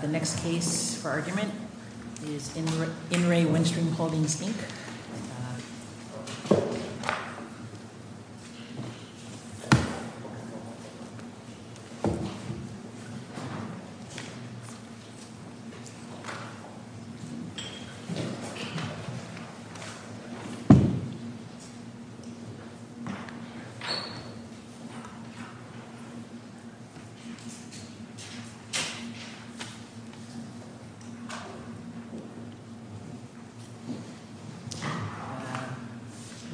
The next case for argument is In Re Windstream Holdings, Inc.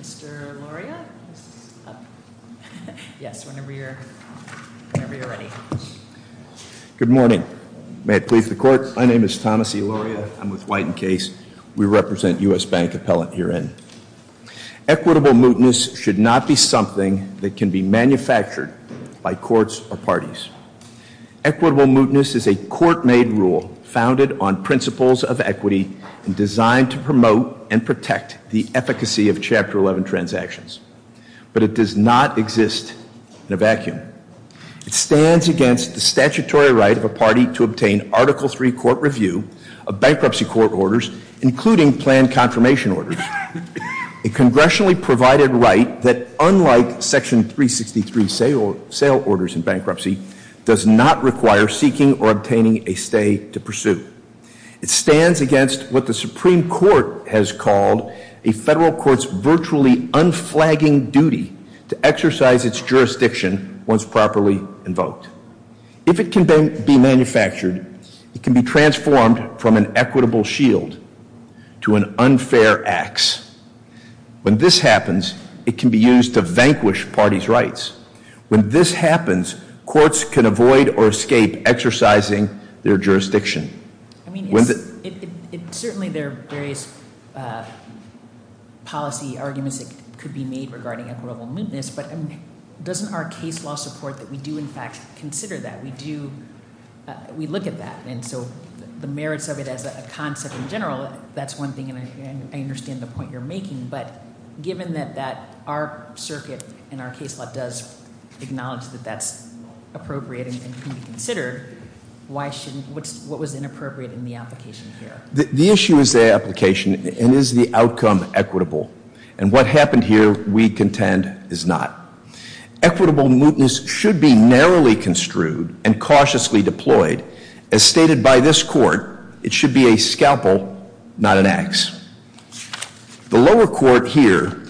Mr. Loria? Yes, whenever you're ready. Good morning. May it please the court. My name is Thomas E. Loria. I'm with White & Case. We represent U.S. Bank Appellant herein. Equitable mootness should not be something that can be manufactured by courts or parties. Equitable mootness is a court-made rule founded on principles of equity and designed to promote and protect the efficacy of Chapter 11 transactions. But it does not exist in a vacuum. It stands against the statutory right of a party to obtain Article III court review of bankruptcy court orders, including planned confirmation orders, a congressionally provided right that unlike Section 363 sale orders in bankruptcy, does not require seeking or obtaining a stay to pursue. It stands against what the Supreme Court has called a federal court's virtually unflagging duty to exercise its jurisdiction once properly invoked. If it can be manufactured, it can be transformed from an equitable shield to an unfair axe. When this happens, it can be used to vanquish parties' rights. When this happens, courts can avoid or escape exercising their jurisdiction. Certainly there are various policy arguments that could be made regarding equitable mootness, but doesn't our case law support that we do in fact consider that? We do, we look at that. And so the merits of it as a concept in general, that's one thing and I understand the point you're making, but given that our circuit and our case law does acknowledge that that's appropriate and can be considered, what was inappropriate in the application here? The issue is the application and is the outcome equitable? And what happened here, we contend, is not. Equitable mootness should be narrowly construed and cautiously deployed. As stated by this court, it should be a scalpel, not an axe. The lower court here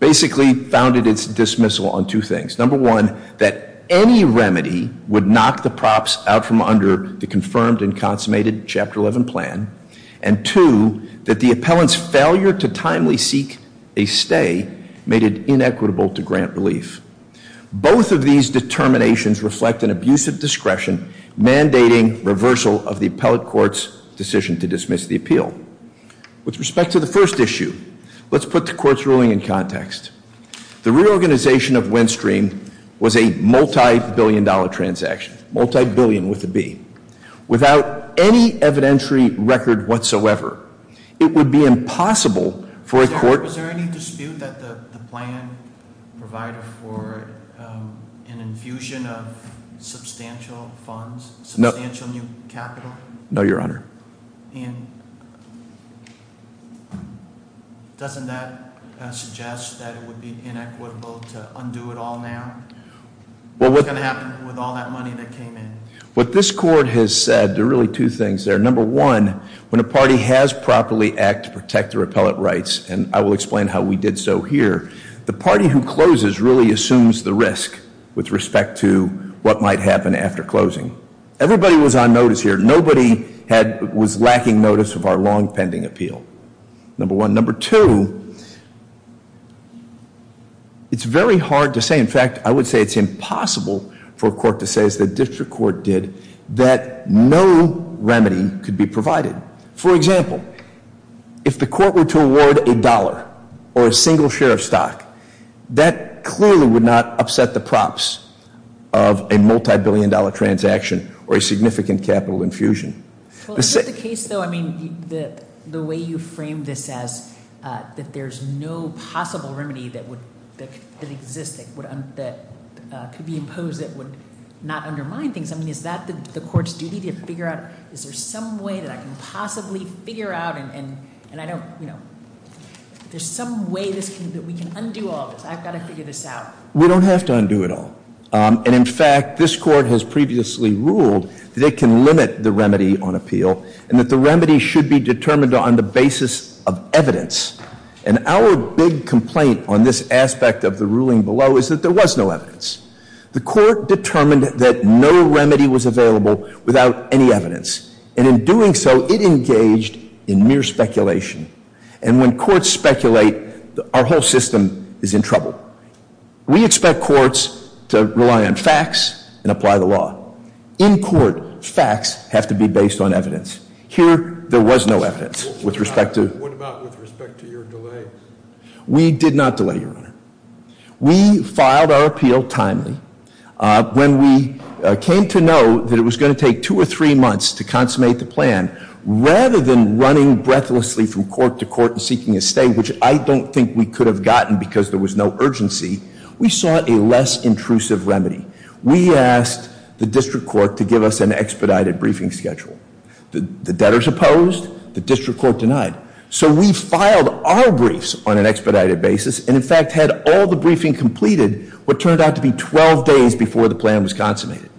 basically founded its dismissal on two things. Number one, that any remedy would knock the props out from under the confirmed and consummated Chapter 11 plan. And two, that the appellant's failure to timely seek a stay made it inequitable to grant relief. Both of these determinations reflect an abusive discretion mandating reversal of the appellate court's decision to dismiss the appeal. With respect to the first issue, let's put the court's ruling in context. The reorganization of WinStream was a multi-billion dollar transaction, multi-billion with a B. Without any evidentiary record whatsoever, it would be impossible for a court- What this court has said, there are really two things there. Number one, when a party has properly act to protect their appellate rights, and I will explain how we did so here, the party who what might happen after closing. Everybody was on notice here. Nobody was lacking notice of our long-pending appeal. Number one. Number two, it's very hard to say, in fact, I would say it's impossible for a court to say, as the district court did, that no remedy could be provided. For example, if the court were to award a dollar or a single share of stock, that clearly would not upset the props of a multi-billion dollar transaction or a significant capital infusion. Is it the case, though, I mean, the way you frame this as that there's no possible remedy that would, that exists, that could be imposed that would not undermine things. I mean, is that the court's duty to figure out, is there some way that I can possibly figure out, and I don't, you know, is there some way that we can undo all of this? I've got to figure this out. We don't have to undo it all. And in fact, this court has previously ruled that it can limit the remedy on appeal, and that the remedy should be determined on the basis of evidence. And our big complaint on this aspect of the ruling below is that there was no evidence. The court determined that no remedy was available without any evidence. And in doing so, it engaged in mere speculation. And when courts speculate, our whole system is in trouble. We expect courts to rely on facts and apply the law. In court, facts have to be based on evidence. Here, there was no evidence with respect to- What about with respect to your delay? We did not delay, Your Honor. We filed our appeal timely. When we came to know that it was going to take two or three months to consummate the plan, rather than running breathlessly from court to court and seeking a stay, which I don't think we could have gotten because there was no urgency, we sought a less intrusive remedy. We asked the district court to give us an expedited briefing schedule. The debtors opposed. The district court denied. So we filed our briefs on an expedited basis, and in fact had all the briefing completed what turned out to be 12 days before the plan was consummated.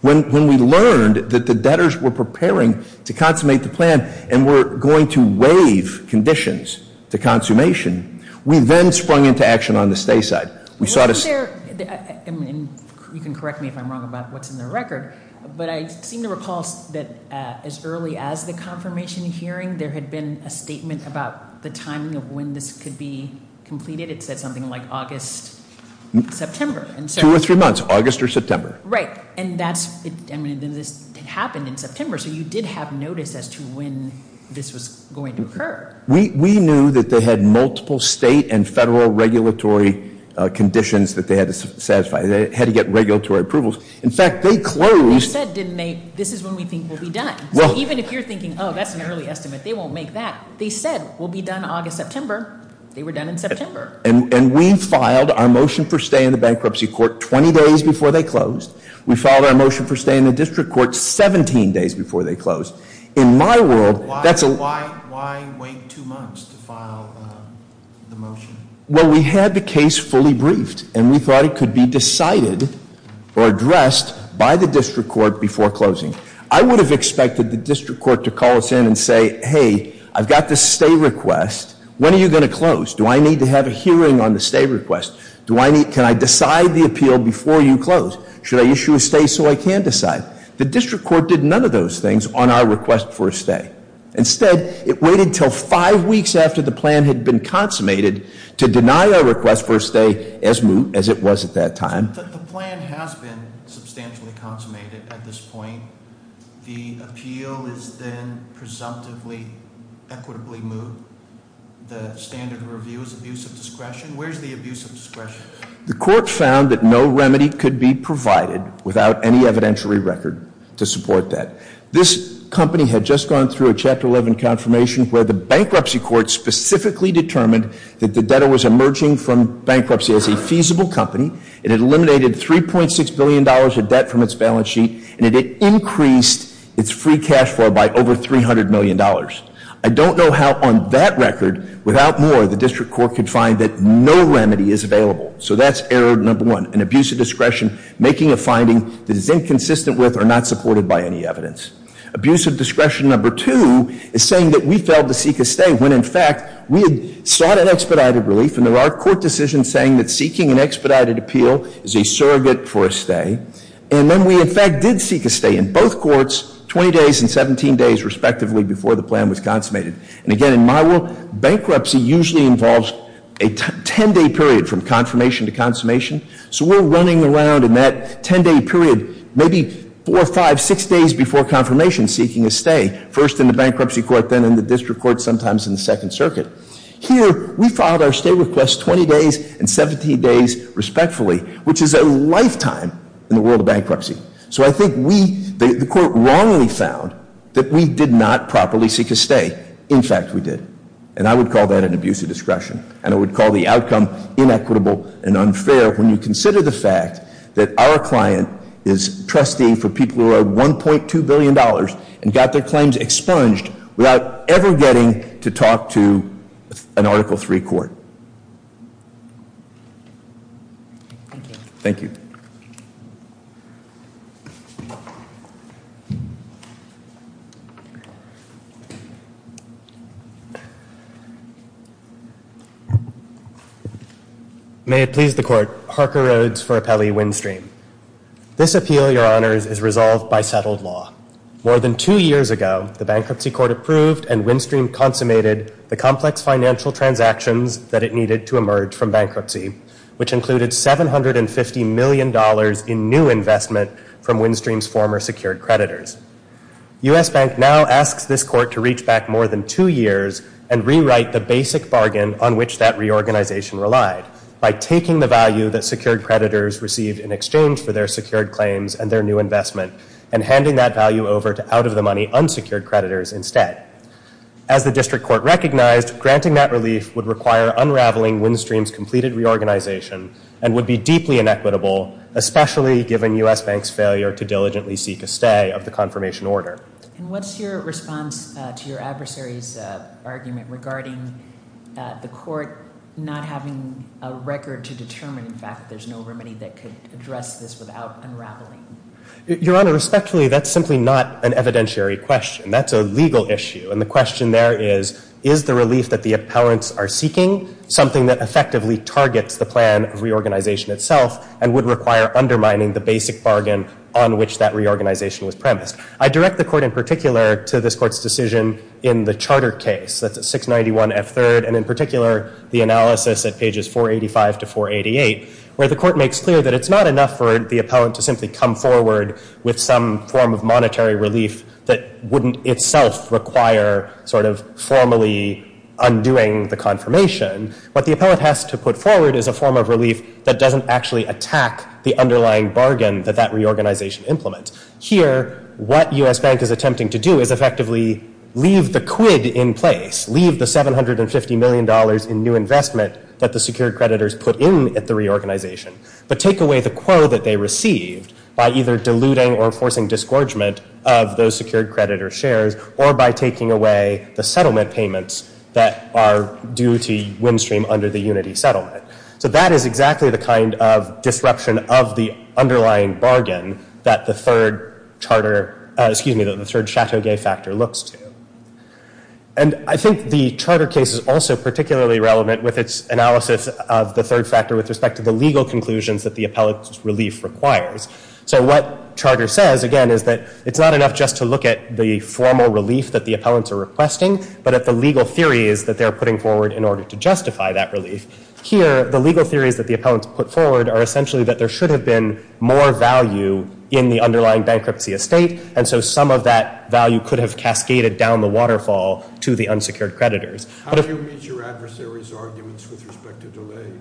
When we learned that the debtors were preparing to consummate the plan and were going to waive conditions to consummation, we then sprung into action on the stay side. We sought a- Wasn't there, and you can correct me if I'm wrong about what's in the record, but I seem to recall that as early as the confirmation hearing, there had been a statement about the timing of when this could be completed. It said something like August, September. Two or three months, August or September. Right, and this happened in September, so you did have notice as to when this was going to occur. We knew that they had multiple state and federal regulatory conditions that they had to satisfy. They had to get regulatory approvals. In fact, they closed- You said, didn't they, this is when we think we'll be done. So even if you're thinking, that's an early estimate, they won't make that. They said, we'll be done August, September. They were done in September. And we filed our motion for stay in the bankruptcy court 20 days before they closed. We filed our motion for stay in the district court 17 days before they closed. In my world, that's a- Why wait two months to file the motion? Well, we had the case fully briefed, and we thought it could be decided or addressed by the district court before closing. I would have expected the district court to call us in and say, hey, I've got this stay request. When are you going to close? Do I need to have a hearing on the stay request? Can I decide the appeal before you close? Should I issue a stay so I can decide? The district court did none of those things on our request for a stay. Instead, it waited until five weeks after the plan had been consummated to deny our request for a stay as it was at that time. The plan has been substantially consummated at this point. The appeal is then presumptively, equitably moved. The standard review is abuse of discretion. Where's the abuse of discretion? The court found that no remedy could be provided without any evidentiary record to support that. This company had just gone through a chapter 11 confirmation where the bankruptcy court specifically determined that the debtor was emerging from bankruptcy as a feasible company. It had eliminated $3.6 billion of debt from its balance sheet, and it had increased its free cash flow by over $300 million. I don't know how on that record, without more, the district court could find that no remedy is available. So that's error number one, an abuse of discretion, making a finding that is inconsistent with or not supported by any evidence. Abuse of discretion number two is saying that we failed to seek a stay when, in fact, we had sought an expedited relief. And there are court decisions saying that seeking an expedited appeal is a surrogate for a stay. And then we, in fact, did seek a stay in both courts, 20 days and 17 days, respectively, before the plan was consummated. And again, in my world, bankruptcy usually involves a ten day period from confirmation to consummation. So we're running around in that ten day period, maybe four, five, six days before confirmation seeking a stay. First in the bankruptcy court, then in the district court, sometimes in the second circuit. Here, we filed our stay request 20 days and 17 days respectfully, which is a lifetime in the world of bankruptcy. So I think we, the court wrongly found that we did not properly seek a stay. In fact, we did. And I would call that an abuse of discretion. And I would call the outcome inequitable and unfair when you consider the fact that our client is trusting for people who are $1.2 billion and got their claims expunged without ever getting to talk to an Article III court. Thank you. May it please the court, Harker Rhodes for Appelli-Windstream. This appeal, your honors, is resolved by settled law. More than two years ago, the bankruptcy court approved and Windstream consummated the complex financial transactions that it needed to emerge from bankruptcy, which included $750 million in new investment from Windstream's former secured creditors. U.S. Bank now asks this court to reach back more than two years and rewrite the basic bargain on which that reorganization relied by taking the value that secured creditors received in exchange for their secured claims and their new investment and handing that value over to out-of-the-money unsecured creditors instead. As the district court recognized, granting that relief would require unraveling Windstream's completed reorganization and would be deeply inequitable, especially given U.S. Bank's failure to diligently seek a stay of the confirmation order. And what's your response to your adversary's argument regarding the court not having a record to determine, in fact, that there's no remedy that could address this without unraveling? Your Honor, respectfully, that's simply not an evidentiary question. That's a legal issue. And the question there is, is the relief that the appellants are seeking something that effectively targets the plan of reorganization itself and would require undermining the basic bargain on which that reorganization was premised? I direct the court in particular to this court's decision in the charter case. That's at 691 F. 3rd, and in particular, the analysis at pages 485 to 488, where the court makes clear that it's not enough for the appellant to simply come forward with some form of monetary relief that wouldn't itself require sort of formally undoing the confirmation. What the appellant has to put forward is a form of relief that doesn't actually attack the underlying bargain that that reorganization implements. Here, what U.S. Bank is attempting to do is effectively leave the quid in place, leave the $750 million in new investment that the secured creditors put in at the reorganization, but take away the quo that they received by either diluting or forcing disgorgement of those secured creditor shares or by taking away the settlement payments that are due to wind stream under the unity settlement. So that is exactly the kind of disruption of the underlying bargain that the third charter, excuse me, the third Chateau Gay factor looks to. And I think the charter case is also particularly relevant with its analysis of the third factor with respect to the legal conclusions that the appellant's relief requires. So what charter says, again, is that it's not enough just to look at the formal relief that the appellants are requesting, but at the legal theories that they're putting forward in order to justify that relief. Here, the legal theories that the appellants put forward are essentially that there should have been more value in the underlying bankruptcy estate, and so some of that value could have cascaded down the waterfall to the unsecured creditors. How do you meet your adversary's arguments with respect to delay?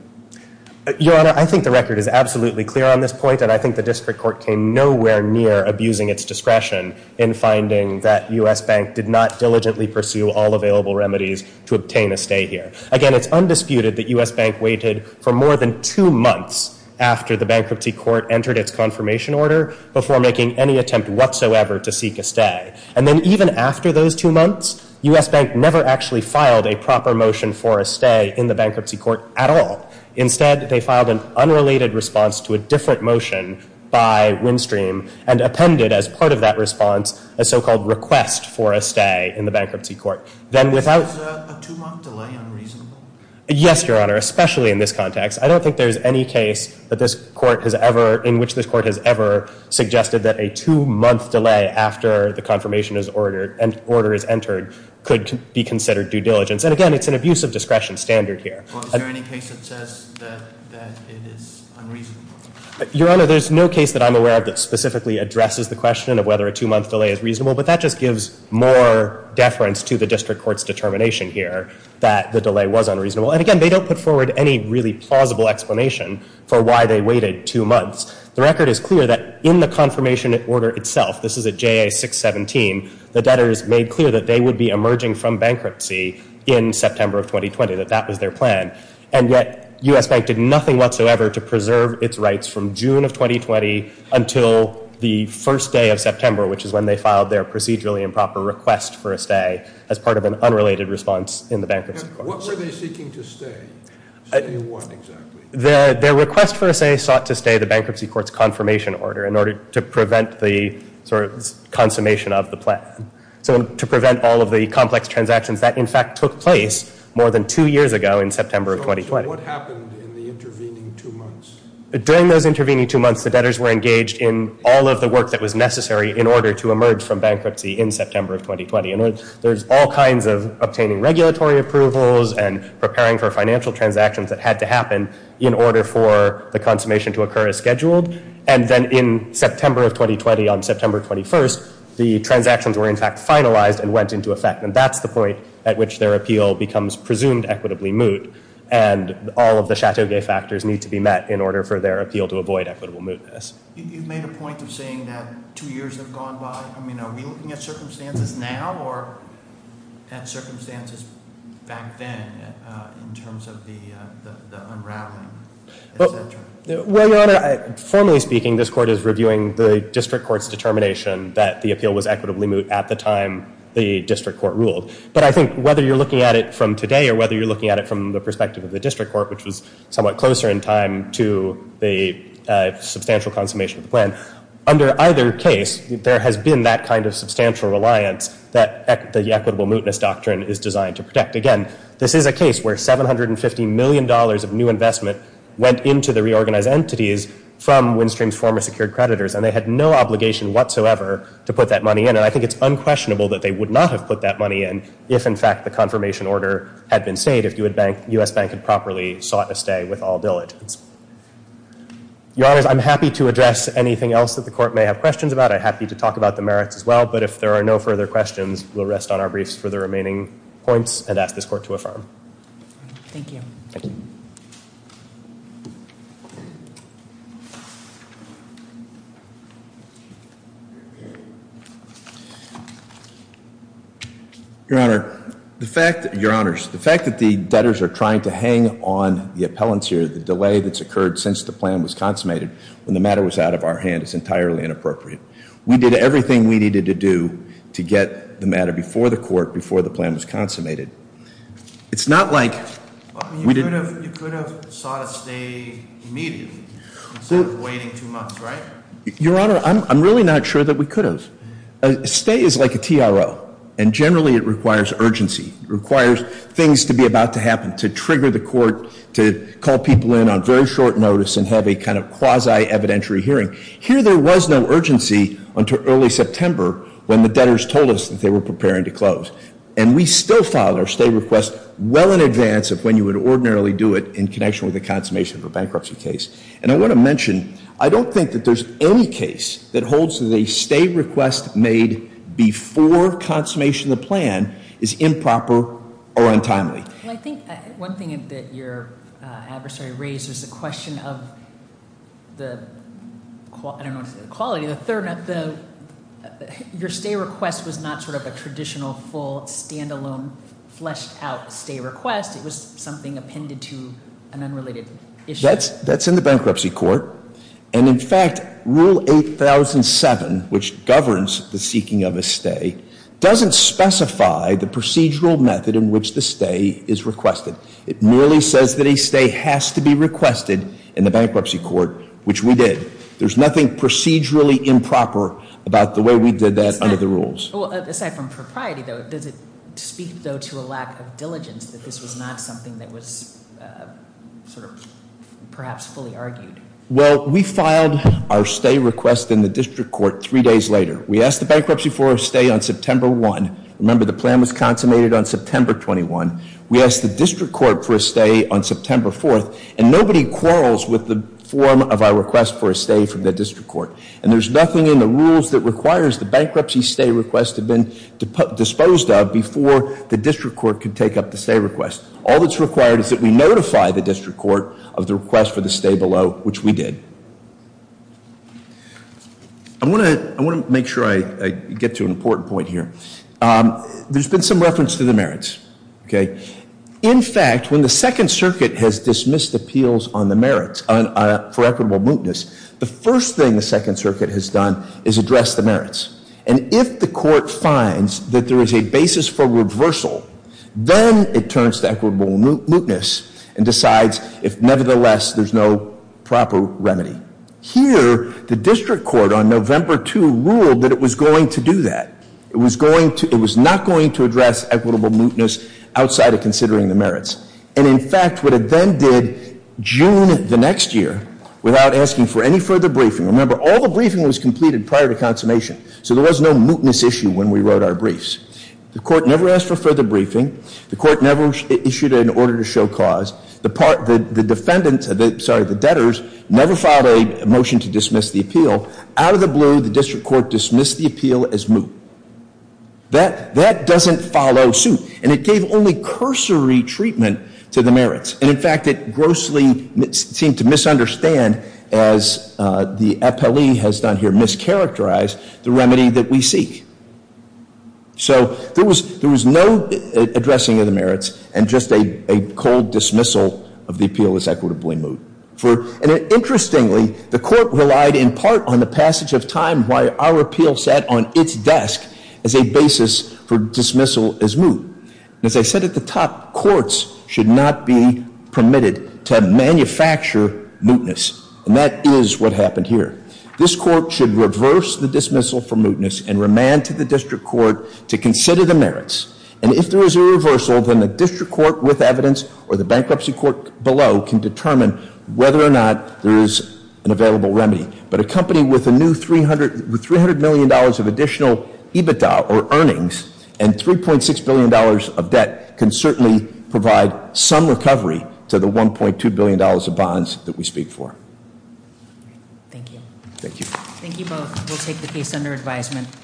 Your Honor, I think the record is absolutely clear on this point, and I think the district court came nowhere near abusing its discretion in finding that U.S. Bank did not diligently pursue all available remedies to obtain a stay here. Again, it's undisputed that U.S. Bank waited for more than two months after the bankruptcy court entered its confirmation order before making any attempt whatsoever to seek a stay, and then even after those two months, U.S. Bank never actually filed a proper motion for a stay in the bankruptcy court at all. Instead, they filed an unrelated response to a different motion by Windstream and appended, as part of that response, a so-called request for a stay in the bankruptcy court. Then, without... Was a two-month delay unreasonable? Yes, Your Honor, especially in this context. I don't think there's any case that this court has ever... in which this court has ever suggested that a two-month delay after the confirmation is ordered and order is entered could be considered due diligence. And again, it's an abuse of discretion standard here. Well, is there any case that says that it is unreasonable? Your Honor, there's no case that I'm aware of that specifically addresses the question of whether a two-month delay is reasonable, but that just gives more deference to the district court's determination here that the delay was unreasonable. And again, they don't put forward any really plausible explanation for why they waited two months. The record is clear that in the confirmation order itself, this is at JA 617, the debtors made clear that they would be emerging from bankruptcy in September of 2020, that that was their plan, and yet U.S. Bank did nothing whatsoever to preserve its rights from June of 2020 until the first day of September, which is when they filed their procedurally improper request for a stay as part of an unrelated response in the bankruptcy court. What were they seeking to stay? Stay what exactly? Their request for a stay sought to stay the bankruptcy court's confirmation order in order to prevent the sort of consummation of the plan. So to prevent all of the complex transactions that in fact took place more than two years ago in September of 2020. So what happened in the intervening two months? During those intervening two months, the debtors were engaged in all of the work that was necessary in order to emerge from bankruptcy in September of 2020. And there's all kinds of obtaining regulatory approvals and preparing for financial transactions that had to happen in order for the consummation to occur as scheduled. And then in September of 2020, on September 21st, the transactions were in fact finalized and went into effect, and that's the point at which their appeal becomes presumed equitably moot. And all of the Chateau Gay factors need to be met in order for their appeal to avoid equitable mootness. You've made a point of saying that two years have gone by. I mean, are we looking at circumstances now or at circumstances back then in terms of the unraveling, et cetera? Well, Your Honor, formally speaking, this court is reviewing the district court's determination that the appeal was equitably moot at the time the district court ruled. But I think whether you're looking at it from today or whether you're looking at it from the perspective of the district court, which was somewhat closer in time to the substantial consummation of the plan, under either case, there has been that kind of substantial reliance that the equitable mootness doctrine is designed to protect. Again, this is a case where $750 million of new investment went into the reorganized entities from Windstream's former secured creditors, and they had no obligation whatsoever to put that money in. And I think it's unquestionable that they would not have put that money in if, in fact, the confirmation order had been stayed, if U.S. Bank had properly sought a stay with all diligence. Your Honors, I'm happy to address anything else that the court may have questions about. I'm happy to talk about the merits as well. But if there are no further questions, we'll rest on our briefs for the remaining points and ask this court to affirm. Thank you. Thank you. Your Honor, the fact that the debtors are trying to hang on the appellants here, the delay that's occurred since the plan was consummated when the matter was out of our hand is entirely inappropriate. We did everything we needed to do to get the matter before the court, before the plan was consummated. It's not like we didn't- You could have sought a stay immediately instead of waiting two months, right? Your Honor, I'm really not sure that we could have. A stay is like a TRO, and generally it requires urgency, it requires things to be about to happen, to trigger the court, to call people in on very short notice and have a kind of quasi-evidentiary hearing. Here there was no urgency until early September when the debtors told us that they were preparing to close. And we still filed our stay request well in advance of when you would ordinarily do it in connection with the consummation of a bankruptcy case. And I want to mention, I don't think that there's any case that holds that a stay request made before consummation of the plan is improper or untimely. Well, I think one thing that your adversary raised was the question of the, I don't know, the quality, the third. Your stay request was not sort of a traditional, full, standalone, fleshed out stay request. It was something appended to an unrelated issue. That's in the bankruptcy court. And in fact, Rule 8007, which governs the seeking of a stay, doesn't specify the procedural method in which the stay is requested. It merely says that a stay has to be requested in the bankruptcy court, which we did. There's nothing procedurally improper about the way we did that under the rules. Aside from propriety though, does it speak though to a lack of diligence that this was not something that was sort of perhaps fully argued? Well, we filed our stay request in the district court three days later. We asked the bankruptcy for a stay on September 1. Remember, the plan was consummated on September 21. We asked the district court for a stay on September 4th. And nobody quarrels with the form of our request for a stay from the district court. And there's nothing in the rules that requires the bankruptcy stay request to have been disposed of before the district court could take up the stay request. All that's required is that we notify the district court of the request for the stay below, which we did. I want to make sure I get to an important point here. There's been some reference to the merits, okay? In fact, when the Second Circuit has dismissed appeals on the merits for equitable mootness, the first thing the Second Circuit has done is address the merits. And if the court finds that there is a basis for reversal, then it turns to equitable mootness and decides if nevertheless there's no proper remedy. Here, the district court on November 2 ruled that it was going to do that. It was not going to address equitable mootness outside of considering the merits. And in fact, what it then did June the next year, without asking for any further briefing. Remember, all the briefing was completed prior to consummation, so there was no mootness issue when we wrote our briefs. The court never asked for further briefing. The court never issued an order to show cause. The debtors never filed a motion to dismiss the appeal. Out of the blue, the district court dismissed the appeal as moot. That doesn't follow suit, and it gave only cursory treatment to the merits. And in fact, it grossly seemed to misunderstand, as the FLE has done here, mischaracterize the remedy that we seek. So there was no addressing of the merits, and just a cold dismissal of the appeal as equitably moot. And interestingly, the court relied in part on the passage of time, why our appeal sat on its desk as a basis for dismissal as moot. As I said at the top, courts should not be permitted to manufacture mootness, and that is what happened here. This court should reverse the dismissal for mootness and remand to the district court to consider the merits. And if there is a reversal, then the district court with evidence, or the bankruptcy court below, can determine whether or not there is an available remedy. But a company with a new $300 million of additional EBITDA, or earnings, and $3.6 billion of debt can certainly provide some recovery to the $1.2 billion of bonds that we speak for. Thank you. Thank you. Thank you both. We'll take the case under advisement.